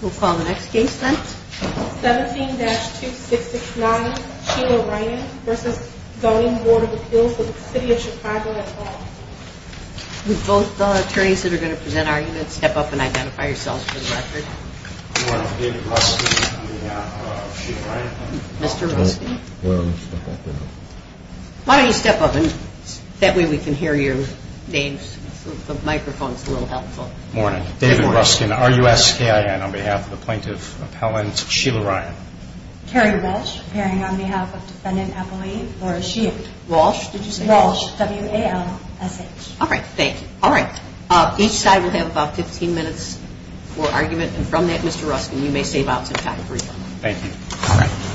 We'll call the next case then. 17-2669 Sheila Ryan v. Zoning Board of Appeals of the City of Chicago at all. Will both attorneys that are going to present our units step up and identify yourselves for the record. David Ruskin and Sheila Ryan. Mr. Ruskin. Why don't you step up and that way we can hear your names. The microphone is a little helpful. Good morning. David Ruskin, RUSKIN, on behalf of the plaintiff appellant Sheila Ryan. Carrie Walsh, appearing on behalf of defendant appellee Laura Shield. Walsh, did you say? Walsh, W-A-L-S-H. All right. Thank you. All right. Each side will have about 15 minutes for argument. And from that, Mr. Ruskin, you may save out some time for your argument. Thank you.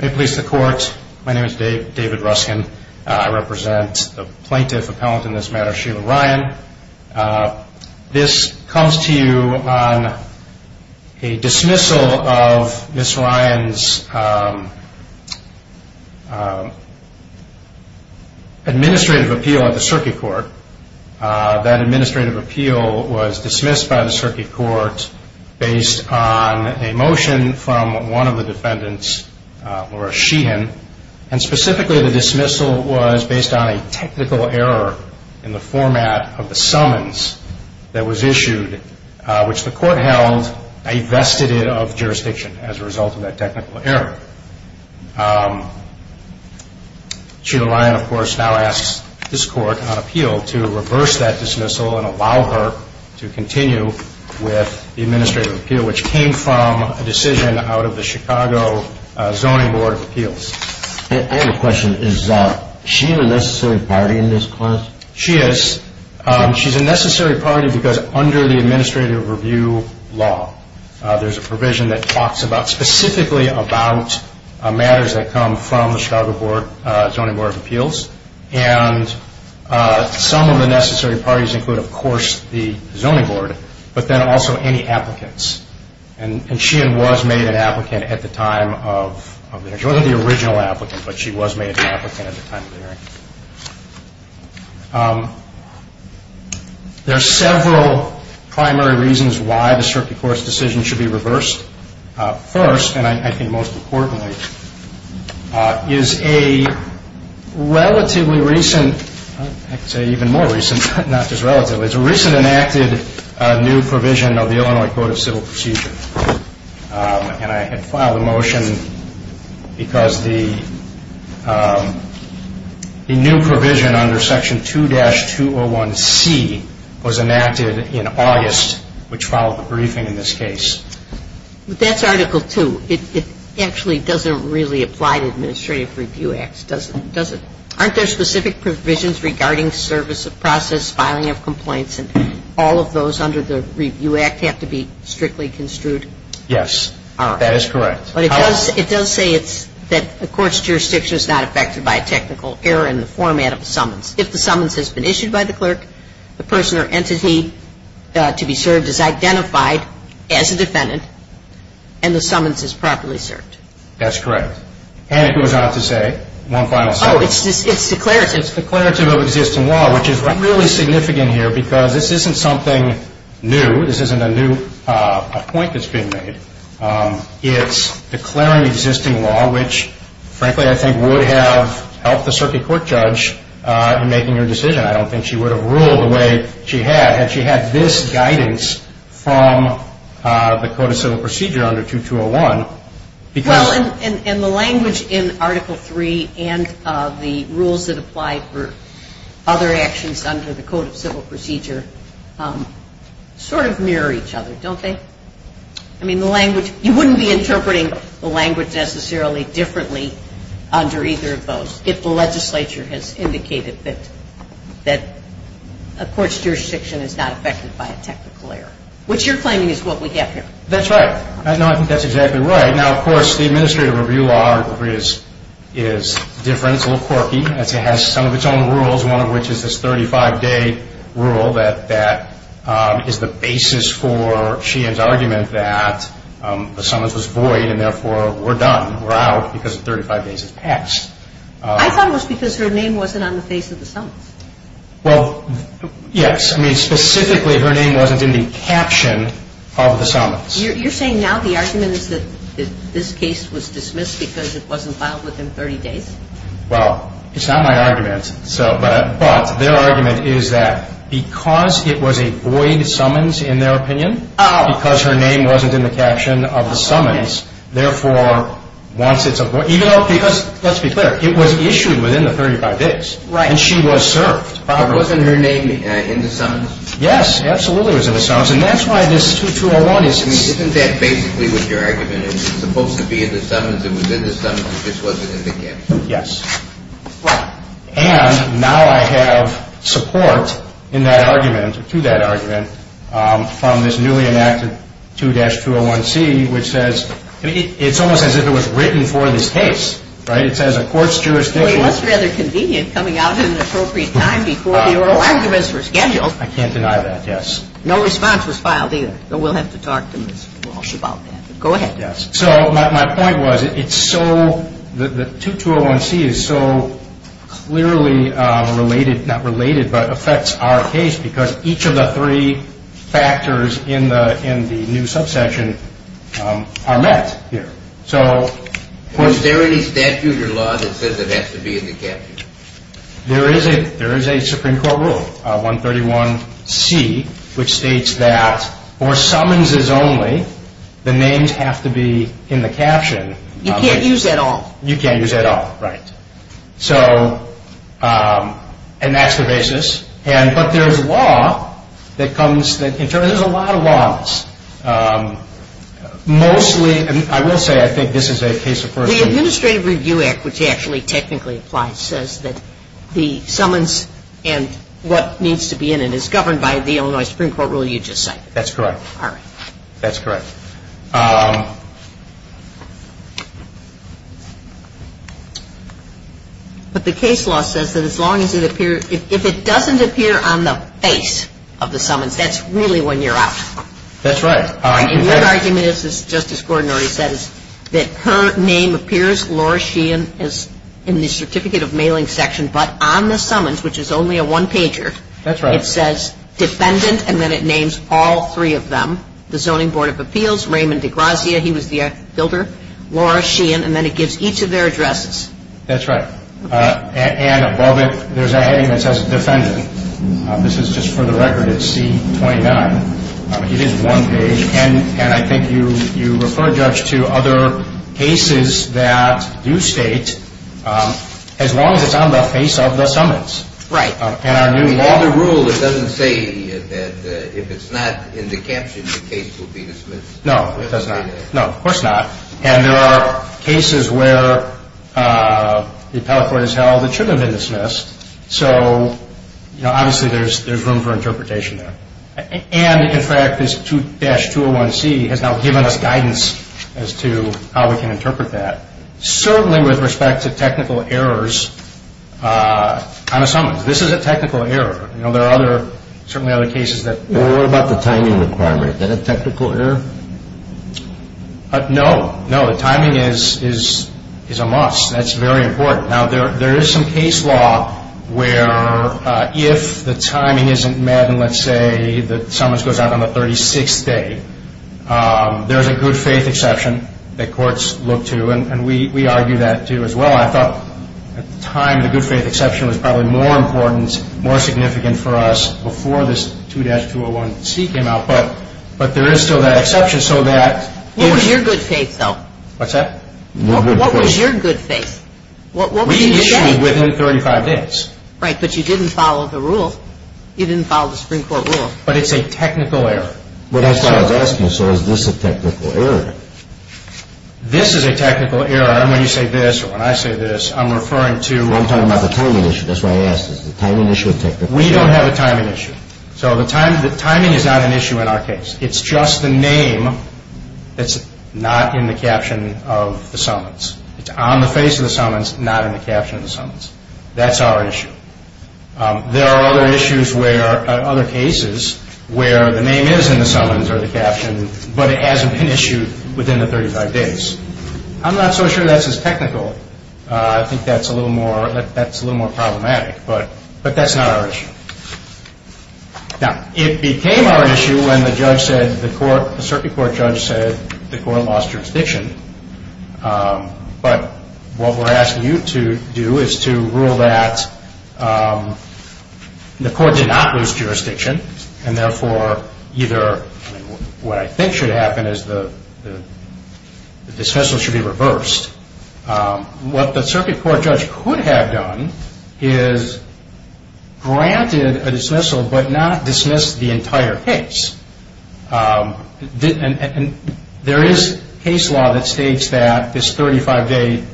May it please the court, my name is David Ruskin. I represent the plaintiff appellant in this matter, Sheila Ryan. This comes to you on a dismissal of Ms. Ryan's administrative appeal at the Circuit Court. That administrative appeal was dismissed by the Circuit Court based on a motion from one of the defendants, Laura Sheehan, and specifically the dismissal was based on a technical error in the format of the summons that was issued, which the court held a vestige of jurisdiction as a result of that technical error. Sheila Ryan, of course, now asks this court on appeal to reverse that dismissal and allow her to continue with the administrative appeal, which came from a decision out of the Chicago Zoning Board of Appeals. I have a question. Is she a necessary party in this case? She is. She's a necessary party because under the administrative review law, there's a provision that talks specifically about matters that come from the Chicago Zoning Board of Appeals, and some of the necessary parties include, of course, the Zoning Board, but then also any applicants. And Sheehan was made an applicant at the time of the hearing. She wasn't the original applicant, but she was made an applicant at the time of the hearing. There are several primary reasons why the circuit court's decision should be reversed. First, and I think most importantly, is a relatively recent, I'd say even more recent, not just relatively, is a recent enacted new provision of the Illinois Code of Civil Procedure. And I had filed a motion because the new provision under Section 2-201C was enacted in August, which followed the briefing in this case. That's Article 2. It actually doesn't really apply to administrative review acts, does it? Aren't there specific provisions regarding service of process, filing of complaints, and all of those under the Review Act have to be strictly construed? Yes, that is correct. But it does say that a court's jurisdiction is not affected by a technical error in the format of a summons. If the summons has been issued by the clerk, the person or entity to be served is identified as a defendant, and the summons is properly served. That's correct. And it goes on to say, one final sentence. Oh, it's declarative. It's declarative of existing law, which is really significant here because this isn't something new. This isn't a new point that's being made. It's declaring existing law, which frankly I think would have helped the circuit court judge in making her decision. I don't think she would have ruled the way she had had she had this guidance from the Code of Civil Procedure under 2-201. Well, and the language in Article III and the rules that apply for other actions under the Code of Civil Procedure sort of mirror each other, don't they? I mean, the language – you wouldn't be interpreting the language necessarily differently under either of those if the legislature has indicated that a court's jurisdiction is not affected by a technical error, which you're claiming is what we have here. That's right. No, I think that's exactly right. Now, of course, the Administrative Review Article III is different. It's a little quirky. It has some of its own rules, one of which is this 35-day rule that is the basis for Sheehan's argument that the summons was void and therefore we're done, we're out because 35 days has passed. I thought it was because her name wasn't on the face of the summons. Well, yes. I mean, specifically, her name wasn't in the caption of the summons. You're saying now the argument is that this case was dismissed because it wasn't filed within 30 days? Well, it's not my argument, but their argument is that because it was a void summons, in their opinion, because her name wasn't in the caption of the summons, therefore, once it's a void – even though – because, let's be clear, it was issued within the 35 days. Right. And she was served. But wasn't her name in the summons? Yes, absolutely it was in the summons, and that's why this 2201 is – I mean, isn't that basically what your argument is? It's supposed to be in the summons. It was in the summons. It just wasn't in the caption. Yes. Right. And now I have support in that argument, to that argument, from this newly enacted 2-201C, which says – I mean, it's almost as if it was written for this case, right? It says a court's jurisdiction – Well, it was rather convenient coming out at an appropriate time before the oral arguments were scheduled. I can't deny that, yes. No response was filed either, but we'll have to talk to Ms. Walsh about that, but go ahead. Yes. So my point was it's so – the 2201C is so clearly related – not related, but affects our case, because each of the three factors in the new subsection are met here. Is there any statute or law that says it has to be in the caption? There is a Supreme Court rule, 131C, which states that for summonses only, the names have to be in the caption. You can't use that at all. You can't use that at all, right. So – and that's the basis. But there's law that comes – there's a lot of laws. Mostly – I will say I think this is a case of first – The Administrative Review Act, which actually technically applies, says that the summons and what needs to be in it is governed by the Illinois Supreme Court rule you just cited. That's correct. All right. That's correct. But the case law says that as long as it appears – if it doesn't appear on the face of the summons, that's really when you're out. That's right. And one argument is, as Justice Gordon already said, is that her name appears, Laura Sheehan, in the certificate of mailing section, but on the summons, which is only a one-pager, it says defendant, and then it names all three of them, the Zoning Board of Appeals, Raymond DeGrazia, he was the builder, Laura Sheehan, and then it gives each of their addresses. That's right. And above it, there's a heading that says defendant. This is just for the record. It's C-29. It is one page, and I think you refer, Judge, to other cases that do state as long as it's on the face of the summons. Right. In our new law – In the rule, it doesn't say that if it's not in the caption, the case will be dismissed. No, it does not. No, of course not. And there are cases where the appellate court has held it should have been dismissed. So, you know, obviously there's room for interpretation there. And, in fact, this 2-201C has now given us guidance as to how we can interpret that, certainly with respect to technical errors on a summons. This is a technical error. You know, there are other – certainly other cases that – Well, what about the timing requirement? Is that a technical error? No. No, the timing is a must. That's very important. Now, there is some case law where if the timing isn't met and, let's say, the summons goes out on the 36th day, there's a good-faith exception that courts look to, and we argue that, too, as well. I thought at the time the good-faith exception was probably more important, more significant for us before this 2-201C came out. But there is still that exception so that – What was your good-faith, though? What's that? What was your good-faith? We issued within 35 days. Right, but you didn't follow the rule. You didn't follow the Supreme Court rule. But it's a technical error. Well, that's what I was asking. So is this a technical error? This is a technical error, and when you say this or when I say this, I'm referring to – Well, I'm talking about the timing issue. That's why I asked. Is the timing issue a technical error? We don't have a timing issue. So the timing is not an issue in our case. It's just the name that's not in the caption of the summons. It's on the face of the summons, not in the caption of the summons. That's our issue. There are other issues where – other cases where the name is in the summons or the caption, but it hasn't been issued within the 35 days. I'm not so sure that's as technical. I think that's a little more problematic. But that's not our issue. Now, it became our issue when the judge said – the circuit court judge said the court lost jurisdiction. But what we're asking you to do is to rule that the court did not lose jurisdiction, and therefore either – what I think should happen is the dismissal should be reversed. What the circuit court judge could have done is granted a dismissal but not dismissed the entire case. There is case law that states that this 35-day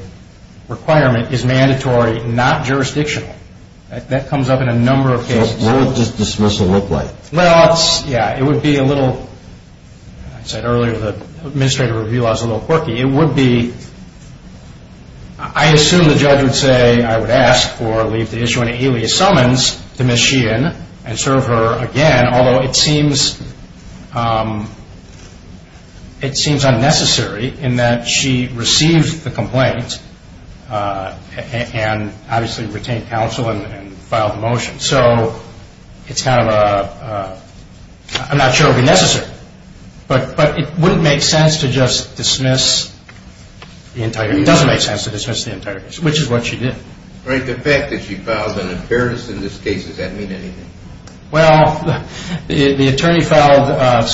requirement is mandatory, not jurisdictional. That comes up in a number of cases. What would this dismissal look like? Well, yeah, it would be a little – I said earlier the administrative review law is a little quirky. It would be – I assume the judge would say I would ask for or leave the issue in an alias summons to Ms. Sheehan and serve her again, although it seems unnecessary in that she received the complaint and obviously retained counsel and filed the motion. So it's kind of a – I'm not sure it would be necessary, but it wouldn't make sense to just dismiss the entire – it doesn't make sense to dismiss the entire case, which is what she did. All right. The fact that she filed an appearance in this case, does that mean anything? Well, the attorney filed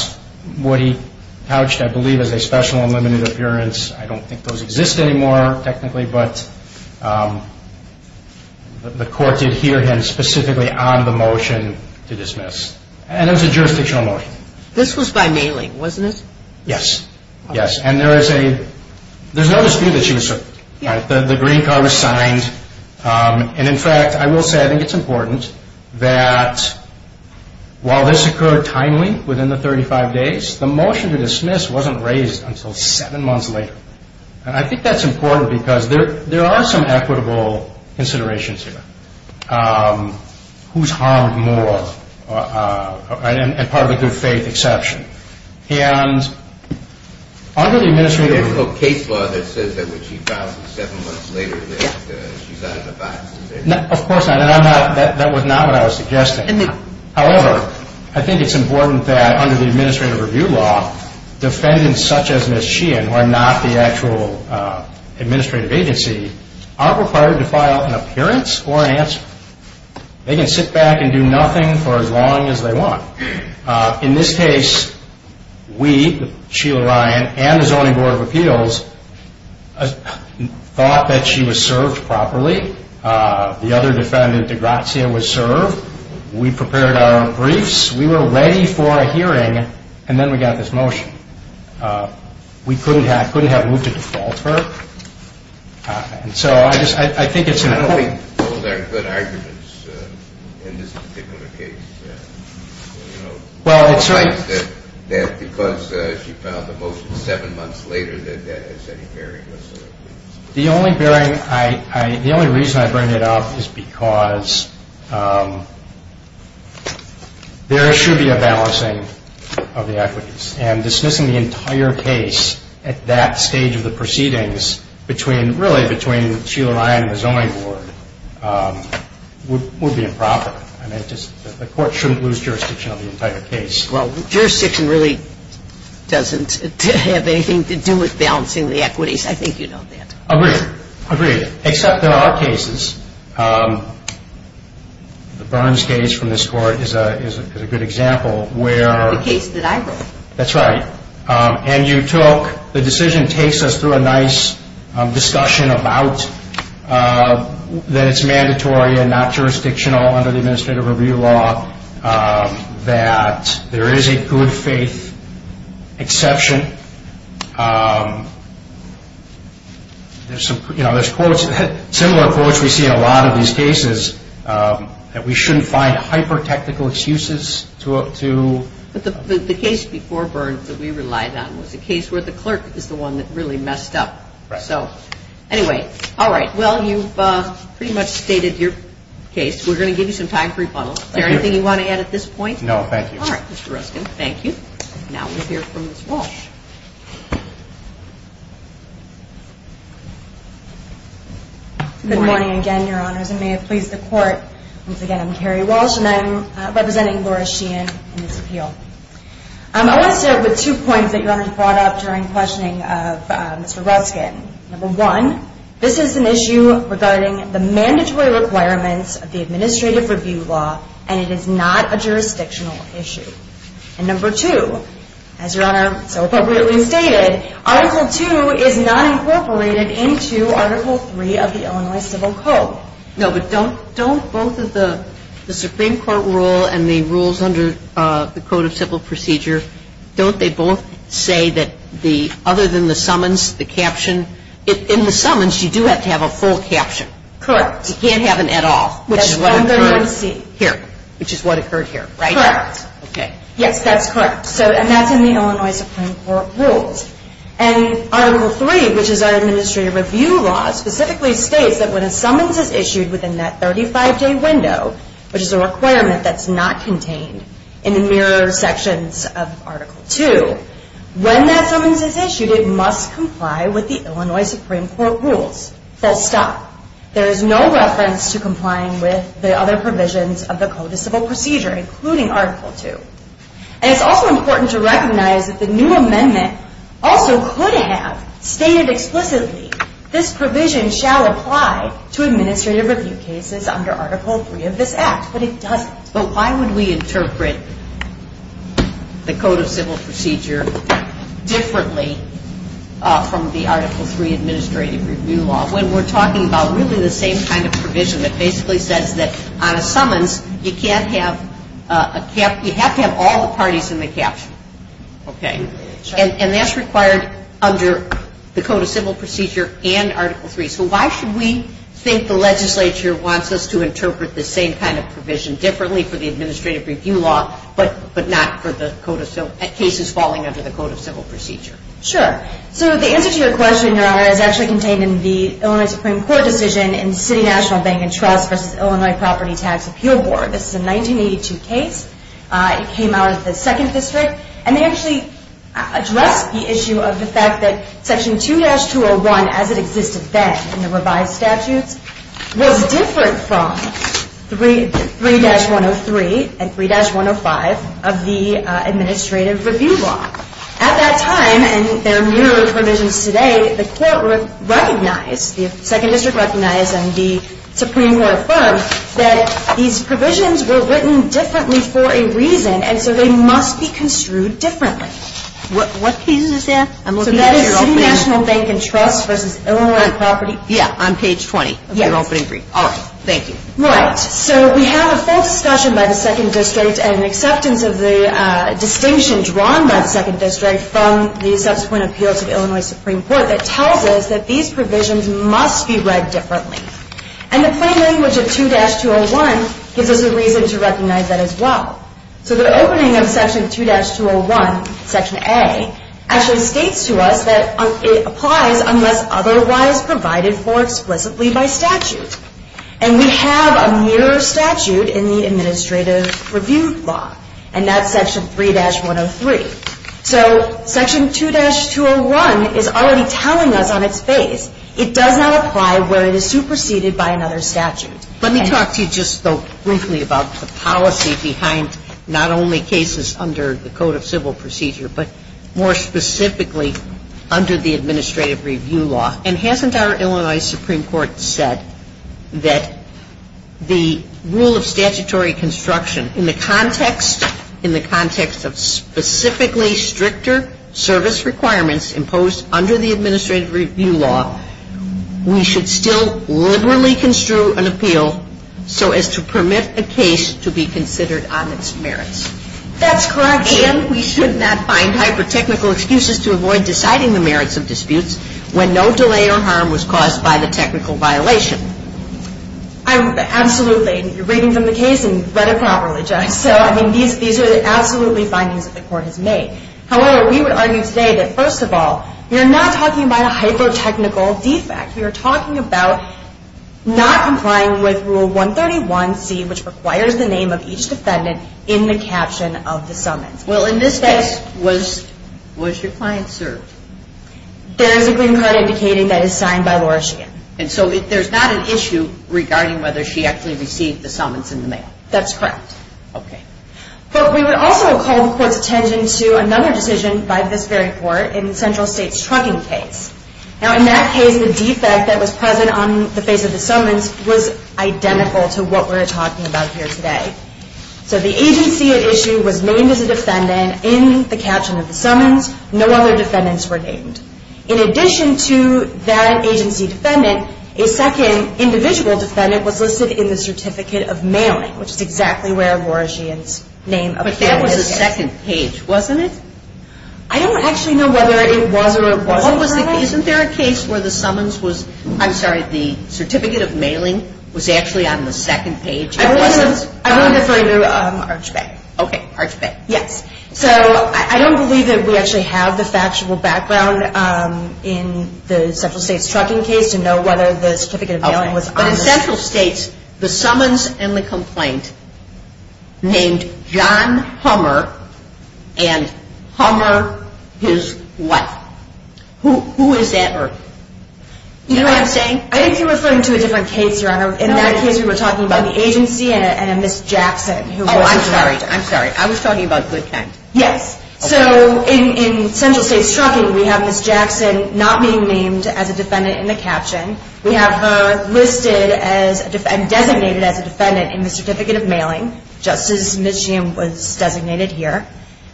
what he couched, I believe, as a special unlimited appearance. I don't think those exist anymore technically, but the court did hear him specifically on the motion to dismiss. And it was a jurisdictional motion. This was by mailing, wasn't it? Yes, yes. And there is a – there's no dispute that she was served. The green card was signed. And in fact, I will say I think it's important that while this occurred timely within the 35 days, the motion to dismiss wasn't raised until seven months later. And I think that's important because there are some equitable considerations here. Who's harmed more? And part of a good faith exception. And under the administrative – There's no case law that says that when she files it seven months later that she's out of the box. Of course not. And I'm not – that was not what I was suggesting. However, I think it's important that under the administrative review law, defendants such as Ms. Sheehan, who are not the actual administrative agency, aren't required to file an appearance or an answer. They can sit back and do nothing for as long as they want. In this case, we, Sheila Ryan and the Zoning Board of Appeals, thought that she was served properly. The other defendant, DeGrazia, was served. We prepared our briefs. We were ready for a hearing. And then we got this motion. We couldn't have moved to default her. And so I just – I think it's important. I don't think those are good arguments in this particular case. Well, it's – That because she filed the motion seven months later that that has any bearing whatsoever. The only bearing – the only reason I bring it up is because there should be a balancing of the equities. And dismissing the entire case at that stage of the proceedings between – really between Sheila Ryan and the Zoning Board would be improper. I mean, it just – the court shouldn't lose jurisdiction of the entire case. Well, jurisdiction really doesn't have anything to do with balancing the equities. I think you know that. Agreed. Agreed. Except there are cases. The Burns case from this court is a good example where – The case that I wrote. That's right. And you took – the decision takes us through a nice discussion about that it's mandatory and not jurisdictional under the Administrative Review Law that there is a good faith exception. There's some – you know, there's quotes – similar quotes we see in a lot of these cases that we shouldn't find hyper-technical excuses to – But the case before Burns that we relied on was a case where the clerk is the one that really messed up. Right. So anyway, all right. Well, you've pretty much stated your case. We're going to give you some time for rebuttal. Is there anything you want to add at this point? No, thank you. All right, Mr. Ruskin. Thank you. Now we'll hear from Ms. Walsh. Good morning again, Your Honors, and may it please the Court. Once again, I'm Carrie Walsh, and I'm representing Laura Sheehan in this appeal. I want to start with two points that Your Honors brought up during questioning of Mr. Ruskin. Number one, this is an issue regarding the mandatory requirements of the Administrative Review Law, and it is not a jurisdictional issue. And number two, as Your Honor so appropriately stated, Article 2 is not incorporated into Article 3 of the Illinois Civil Code. No, but don't both of the Supreme Court rule and the rules under the Code of Civil Procedure, don't they both say that other than the summons, the caption? In the summons, you do have to have a full caption. Correct. You can't have an et al., which is what occurred here, which is what occurred here, right? Correct. Okay. Yes, that's correct. And that's in the Illinois Supreme Court rules. And Article 3, which is our Administrative Review Law, specifically states that when a summons is issued within that 35-day window, which is a requirement that's not contained in the mirror sections of Article 2, when that summons is issued, it must comply with the Illinois Supreme Court rules. Full stop. There is no reference to complying with the other provisions of the Code of Civil Procedure, including Article 2. And it's also important to recognize that the new amendment also could have stated explicitly, this provision shall apply to administrative review cases under Article 3 of this Act. But it doesn't. But why would we interpret the Code of Civil Procedure differently from the Article 3 Administrative Review Law when we're talking about really the same kind of provision that basically says that on a summons, you have to have all the parties in the caption. Okay. And that's required under the Code of Civil Procedure and Article 3. So why should we think the legislature wants us to interpret the same kind of provision differently for the Administrative Review Law but not for cases falling under the Code of Civil Procedure? Sure. So the answer to your question, Your Honor, is actually contained in the Illinois Supreme Court decision in the City National Bank and Trust v. Illinois Property Tax Appeal Board. This is a 1982 case. It came out of the 2nd District. And they actually addressed the issue of the fact that Section 2-201, as it existed then in the revised statutes, was different from 3-103 and 3-105 of the Administrative Review Law. At that time, and there are numerous provisions today, the court recognized, the 2nd District recognized, and the Supreme Court affirmed that these provisions were written differently for a reason, and so they must be construed differently. What page is that? I'm looking at your opening. So that is City National Bank and Trust v. Illinois Property. Yeah, on page 20 of your opening brief. All right. Thank you. Right. So we have a full discussion by the 2nd District and an acceptance of the distinction drawn by the 2nd District from the subsequent appeals of Illinois Supreme Court that tells us that these provisions must be read differently. And the plain language of 2-201 gives us a reason to recognize that as well. So the opening of Section 2-201, Section A, actually states to us that it applies unless otherwise provided for explicitly by statute. And we have a mere statute in the Administrative Review Law, and that's Section 3-103. So Section 2-201 is already telling us on its face, it does not apply where it is superseded by another statute. Let me talk to you just, though, briefly about the policy behind not only cases under the Code of Civil Procedure, but more specifically under the Administrative Review Law. And hasn't our Illinois Supreme Court said that the rule of statutory construction in the context of specifically stricter service requirements imposed under the Administrative Review Law, we should still liberally construe an appeal so as to permit a case to be considered on its merits? That's correct. And we should not find hyper-technical excuses to avoid deciding the merits of disputes when no delay or harm was caused by the technical violation? Absolutely. You're reading from the case and you've read it properly, Judge. So, I mean, these are absolutely findings that the Court has made. However, we would argue today that, first of all, we are not talking about a hyper-technical defect. We are talking about not complying with Rule 131C, which requires the name of each defendant in the caption of the summons. Well, in this case, was your client served? There is a green card indicating that it is signed by Laura Sheehan. And so there's not an issue regarding whether she actually received the summons in the mail? That's correct. Okay. But we would also call the Court's attention to another decision by this very Court in the Central States Trucking case. Now, in that case, the defect that was present on the face of the summons was identical to what we're talking about here today. So the agency at issue was named as a defendant in the caption of the summons. No other defendants were named. In addition to that agency defendant, a second individual defendant was listed in the certificate of mailing, which is exactly where Laura Sheehan's name appears. But that was the second page, wasn't it? I don't actually know whether it was or it wasn't. Isn't there a case where the summons was, I'm sorry, the certificate of mailing was actually on the second page? I'm only referring to Arch Bay. Okay, Arch Bay. Yes. So I don't believe that we actually have the factual background in the Central States Trucking case to know whether the certificate of mailing was on the second page. But in Central States, the summons and the complaint named John Hummer and Hummer his what? Who is that person? Do you know what I'm saying? I think you're referring to a different case, Your Honor. In that case, we were talking about the agency and a Ms. Jackson. Oh, I'm sorry. I was talking about Goodkind. Yes. So in Central States Trucking, we have Ms. Jackson not being named as a defendant in the caption. We have her listed and designated as a defendant in the certificate of mailing, just as Ms. Sheehan was designated here.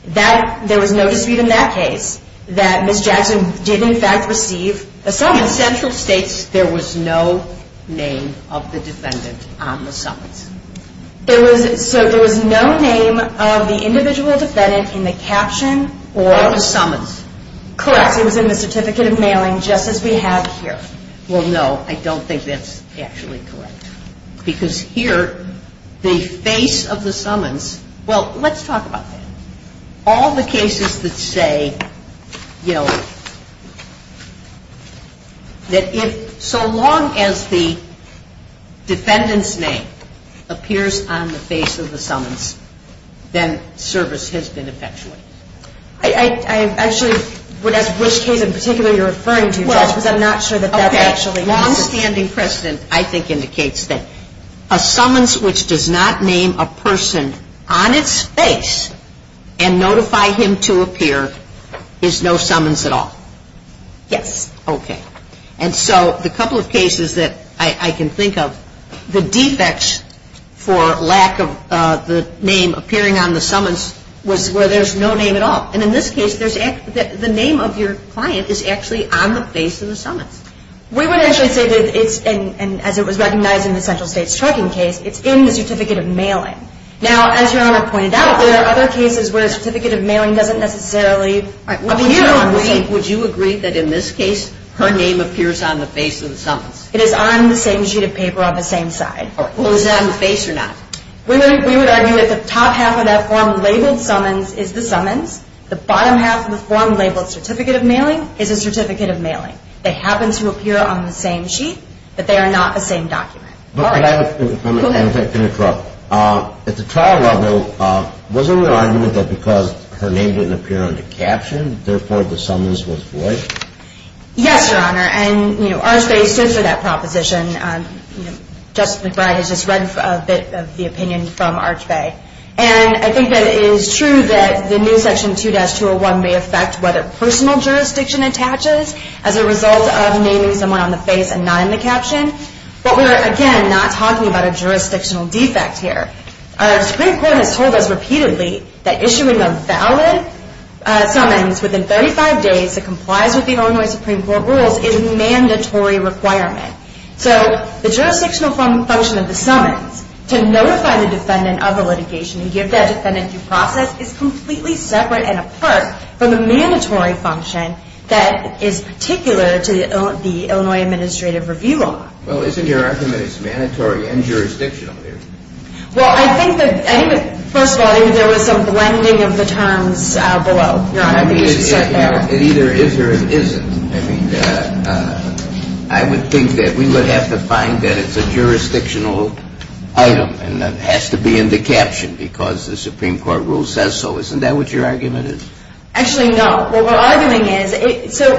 There was no dispute in that case that Ms. Jackson did, in fact, receive a summons. In Central States, there was no name of the defendant on the summons. So there was no name of the individual defendant in the caption or the summons. Correct. It was in the certificate of mailing, just as we have here. Well, no, I don't think that's actually correct. Because here, the face of the summons, well, let's talk about that. All the cases that say, you know, that if so long as the defendant's name appears on the face of the summons, then service has been effectuated. I actually would ask which case in particular you're referring to, Judge, because I'm not sure that that actually exists. Okay. Longstanding precedent, I think, indicates that a summons which does not name a person on its face and notify him to appear is no summons at all. Yes. Okay. And so the couple of cases that I can think of, the defects for lack of the name appearing on the summons was where there's no name at all. And in this case, the name of your client is actually on the face of the summons. We would actually say that it's, as it was recognized in the Central States trucking case, it's in the certificate of mailing. Now, as Your Honor pointed out, there are other cases where a certificate of mailing doesn't necessarily appear on the face. Would you agree that in this case her name appears on the face of the summons? It is on the same sheet of paper on the same side. Well, is it on the face or not? We would argue that the top half of that form labeled summons is the summons. The bottom half of the form labeled certificate of mailing is a certificate of mailing. They happen to appear on the same sheet, but they are not the same document. I'm going to interrupt. At the trial level, wasn't there an argument that because her name didn't appear on the caption, therefore the summons was void? Yes, Your Honor, and Arch Bay stood for that proposition. Justice McBride has just read a bit of the opinion from Arch Bay. And I think that it is true that the new section 2-201 may affect whether personal jurisdiction attaches as a result of naming someone on the face and not in the caption. But we're, again, not talking about a jurisdictional defect here. Our Supreme Court has told us repeatedly that issuing a valid summons within 35 days that complies with the Illinois Supreme Court rules is a mandatory requirement. So the jurisdictional function of the summons to notify the defendant of the litigation and give that defendant due process is completely separate and apart from the mandatory function that is particular to the Illinois Administrative Review Law. Well, isn't your argument it's mandatory and jurisdictional here? Well, I think that, first of all, there was some blending of the terms below, Your Honor. It either is or it isn't. I mean, I would think that we would have to find that it's a jurisdictional item and that it has to be in the caption because the Supreme Court rule says so. Isn't that what your argument is? Actually, no. What we're arguing is, so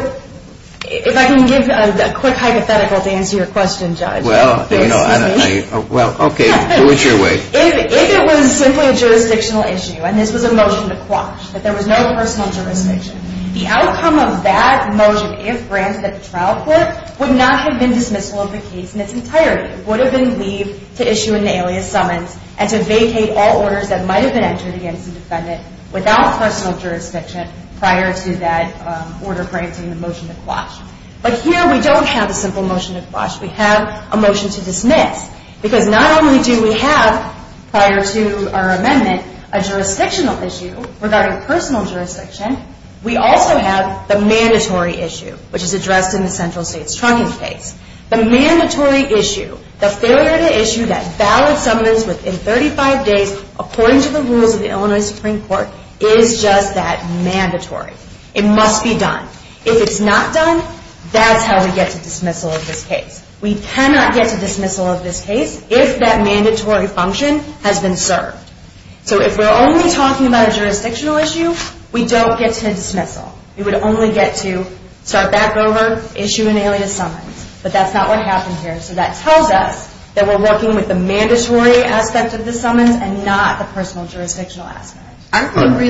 if I can give a quick hypothetical to answer your question, Judge. Well, okay. Do it your way. If it was simply a jurisdictional issue and this was a motion to quash, that there was no personal jurisdiction, the outcome of that motion, if granted at the trial court, would not have been dismissal of the case in its entirety. It would have been leave to issue an alias summons and to vacate all orders that might have been entered against the defendant without personal jurisdiction prior to that order granting the motion to quash. But here we don't have a simple motion to quash. We have a motion to dismiss because not only do we have, prior to our amendment, a jurisdictional issue regarding personal jurisdiction, we also have the mandatory issue, which is addressed in the central state's trunking case. The mandatory issue, the failure to issue that valid summons within 35 days according to the rules of the Illinois Supreme Court, is just that, mandatory. It must be done. If it's not done, that's how we get to dismissal of this case. We cannot get to dismissal of this case if that mandatory function has been served. So if we're only talking about a jurisdictional issue, we don't get to dismissal. We would only get to start back over, issue an alias summons. But that's not what happened here. So that tells us that we're working with the mandatory aspect of the summons and not the personal jurisdictional aspect. Aren't we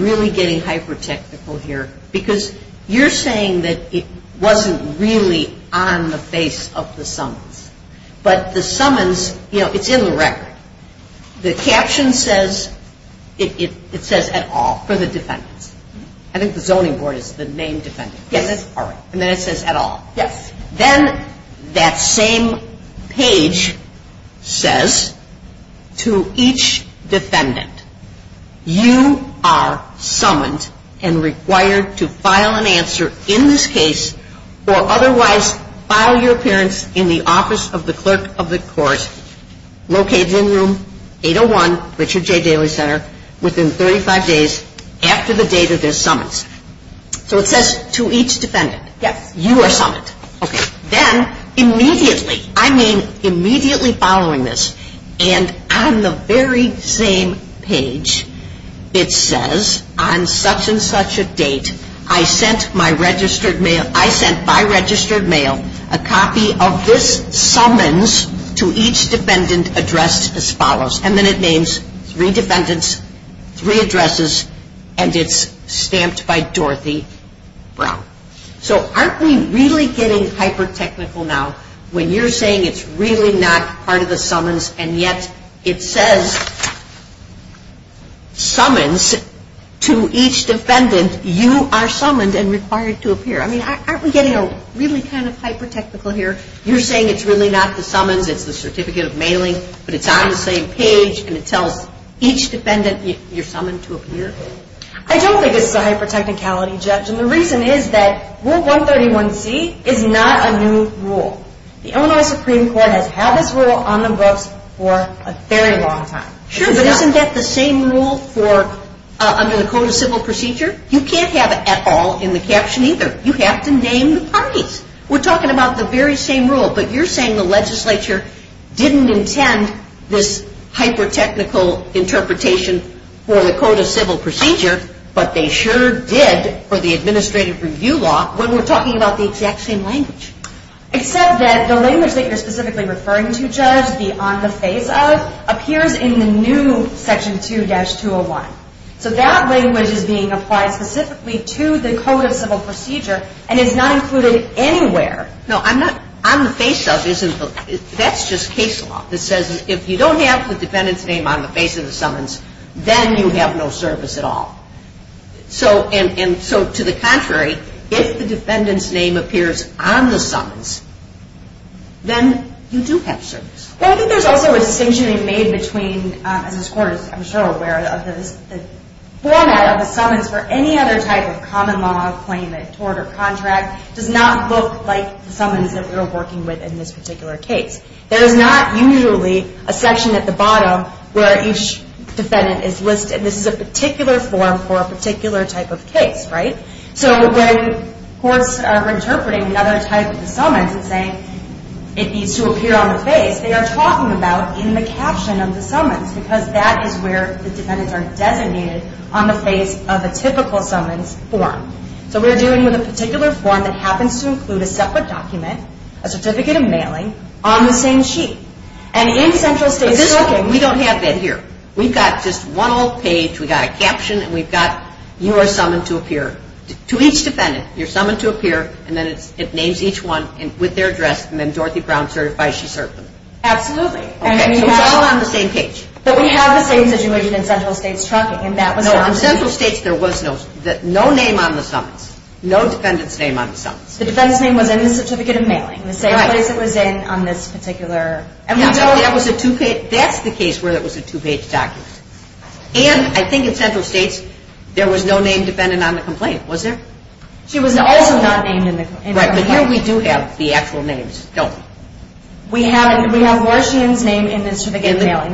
really getting hyper-technical here? Because you're saying that it wasn't really on the face of the summons. But the summons, you know, it's in the record. The caption says, it says at all for the defendants. I think the zoning board is the main defendant. Yes. And then it says at all. Yes. Then that same page says to each defendant, you are summoned and required to file an answer in this case or otherwise file your appearance in the office of the clerk of the court located in room 801, Richard J. Daly Center, within 35 days after the date of their summons. So it says to each defendant. Yes. You are summoned. Okay. Then immediately, I mean immediately following this, and on the very same page it says on such and such a date, I sent by registered mail a copy of this summons to each defendant addressed as follows. And then it names three defendants, three addresses, and it's stamped by Dorothy Brown. So aren't we really getting hyper-technical now when you're saying it's really not part of the summons and yet it says summons to each defendant, you are summoned and required to appear. I mean, aren't we getting really kind of hyper-technical here? You're saying it's really not the summons, it's the certificate of mailing, but it's on the same page and it tells each defendant you're summoned to appear? I don't think it's a hyper-technicality, Judge, and the reason is that Rule 131C is not a new rule. The Illinois Supreme Court has had this rule on the books for a very long time. Sure, but isn't that the same rule under the Code of Civil Procedure? You can't have it at all in the caption either. You have to name the parties. We're talking about the very same rule, but you're saying the legislature didn't intend this hyper-technical interpretation for the Code of Civil Procedure, but they sure did for the administrative review law when we're talking about the exact same language. Except that the language that you're specifically referring to, Judge, the on the face of, appears in the new Section 2-201. So that language is being applied specifically to the Code of Civil Procedure and is not included anywhere. No, on the face of isn't. That's just case law. It says if you don't have the defendant's name on the face of the summons, then you have no service at all. So to the contrary, if the defendant's name appears on the summons, then you do have service. Well, I think there's also a distinction being made between, as this Court is I'm sure aware of, the format of the summons for any other type of common law claimant, the summons that we're working with in this particular case. There is not usually a section at the bottom where each defendant is listed. This is a particular form for a particular type of case, right? So when courts are interpreting another type of summons and saying it needs to appear on the face, they are talking about in the caption of the summons because that is where the defendants are designated on the face of a typical summons form. So we're dealing with a particular form that happens to include a separate document, a certificate of mailing, on the same sheet. And in central states trucking... We don't have that here. We've got just one old page. We've got a caption, and we've got you are summoned to appear. To each defendant, you're summoned to appear, and then it names each one with their address, and then Dorothy Brown certifies she served them. Absolutely. Okay, so it's all on the same page. But we have the same situation in central states trucking, and that was... No, on central states, there was no name on the summons, no defendant's name on the summons. The defendant's name was in the certificate of mailing, the same place it was in on this particular... Yeah, but that was a two-page... That's the case where it was a two-page document. And I think in central states, there was no name dependent on the complaint, was there? She was also not named in the complaint. Right, but here we do have the actual names, don't we? We have Warshian's name in the certificate of mailing.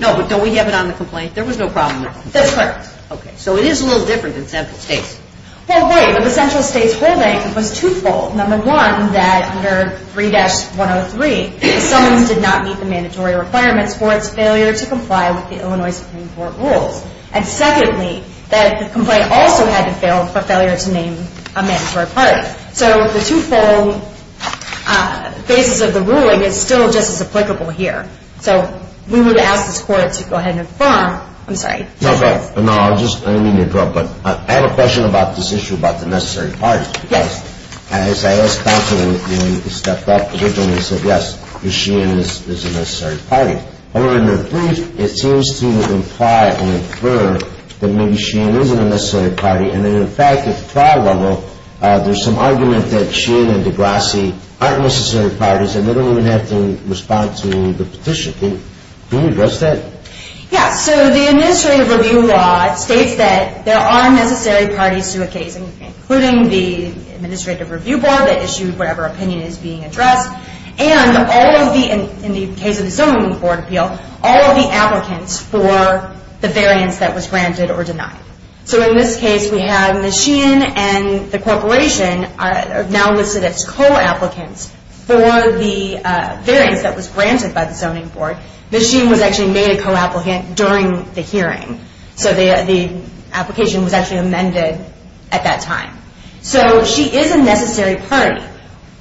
No, but don't we have it on the complaint? There was no problem with it. That's correct. Okay, so it is a little different than central states. Well, wait, but the central states holding was twofold. Number one, that under 3-103, the summons did not meet the mandatory requirements for its failure to comply with the Illinois Supreme Court rules. And secondly, that the complaint also had to fail for failure to name a mandatory party. So the twofold basis of the ruling is still just as applicable here. So we would ask this Court to go ahead and inform... I'm sorry. No, I'll just... I didn't mean to interrupt, but I have a question about this issue about the necessary parties. Yes. As I asked counsel when he stepped up originally, he said, yes, Warshian is a necessary party. However, in the brief, it seems to imply and infer that maybe Warshian isn't a necessary party. And in fact, at the trial level, there's some argument that Warshian and Degrassi aren't necessary parties, and they don't even have to respond to the petition. Can you address that? Yes. So the administrative review law states that there are necessary parties to a case, including the administrative review board that issued whatever opinion is being addressed, and all of the... in the case of the zoning board appeal, all of the applicants for the variance that was granted or denied. So in this case, we have Warshian and the corporation are now listed as co-applicants for the variance that was granted by the zoning board. Warshian was actually made a co-applicant during the hearing. So the application was actually amended at that time. So she is a necessary party.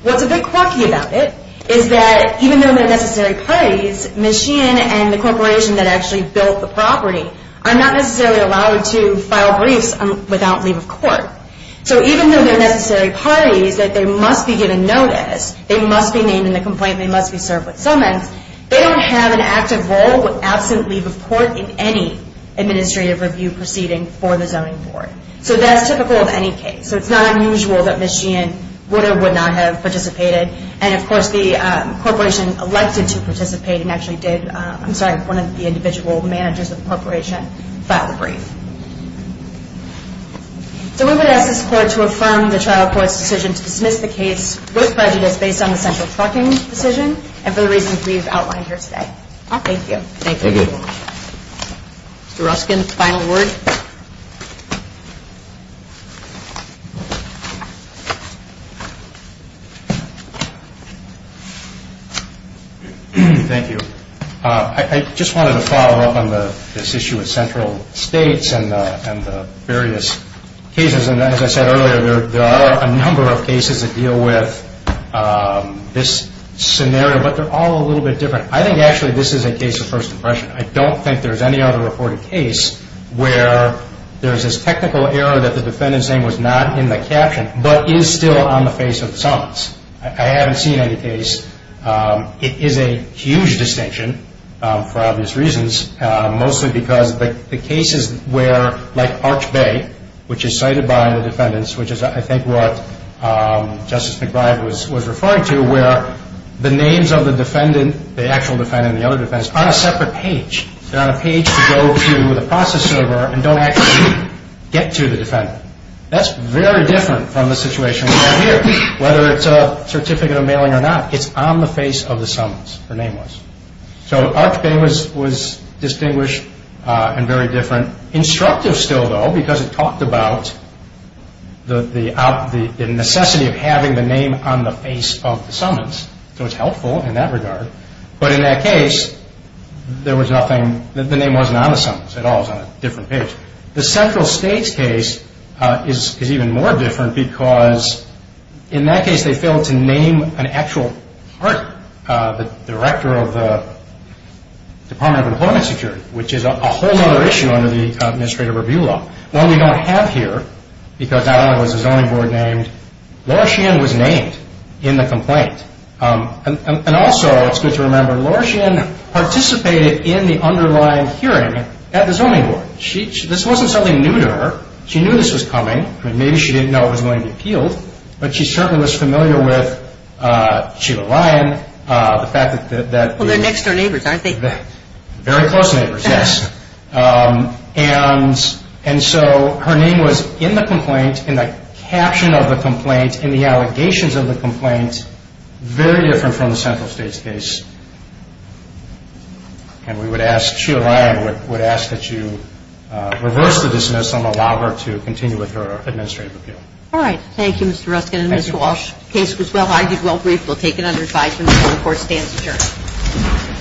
What's a bit quirky about it is that even though they're necessary parties, Warshian and the corporation that actually built the property are not necessarily allowed to file briefs without leave of court. So even though they're necessary parties, that they must be given notice, they must be named in the complaint, they must be served with summons, they don't have an active role with absent leave of court in any administrative review proceeding for the zoning board. So that's typical of any case. So it's not unusual that Ms. Warshian would or would not have participated. And of course, the corporation elected to participate and actually did... I'm sorry, one of the individual managers of the corporation filed a brief. So we would ask this court to affirm the trial court's decision to dismiss the case with prejudice based on the central parking decision and for the reasons we've outlined here today. Thank you. Thank you. Mr. Ruskin, final word. Thank you. I just wanted to follow up on this issue with central states. And the various cases. And as I said earlier, there are a number of cases that deal with this scenario, but they're all a little bit different. I think actually this is a case of first impression. I don't think there's any other reported case where there's this technical error that the defendant's name was not in the caption but is still on the face of summons. I haven't seen any case. It is a huge distinction for obvious reasons, mostly because the cases where, like Arch Bay, which is cited by the defendants, which is I think what Justice McBride was referring to, where the names of the defendant, the actual defendant and the other defendants, are on a separate page. They're on a page to go to the process server and don't actually get to the defendant. That's very different from the situation we have here. Whether it's a certificate of mailing or not, it's on the face of the summons, her name was. Arch Bay was distinguished and very different. Instructive still, though, because it talked about the necessity of having the name on the face of the summons. So it's helpful in that regard. But in that case, the name wasn't on the summons at all. It was on a different page. The Central States case is even more different because in that case they failed to name an actual partner, the director of the Department of Employment Security, which is a whole other issue under the Administrative Review Law. One we don't have here, because that one was a zoning board named, Laura Sheehan was named in the complaint. And also, it's good to remember, Laura Sheehan participated in the underlying hearing at the zoning board. This wasn't something new to her. Maybe she didn't know it was going to be appealed, but she certainly was familiar with Sheila Lyon, the fact that... Well, they're next-door neighbors, aren't they? Very close neighbors, yes. And so her name was in the complaint, in the caption of the complaint, in the allegations of the complaint, very different from the Central States case. And we would ask Sheila Lyon, we would ask that you reverse the dismissal and allow her to continue with her Administrative Review. All right. Thank you, Mr. Ruskin, and Mr. Walsh. The case was well argued, well briefed. We'll take it under advisory until the court stands adjourned.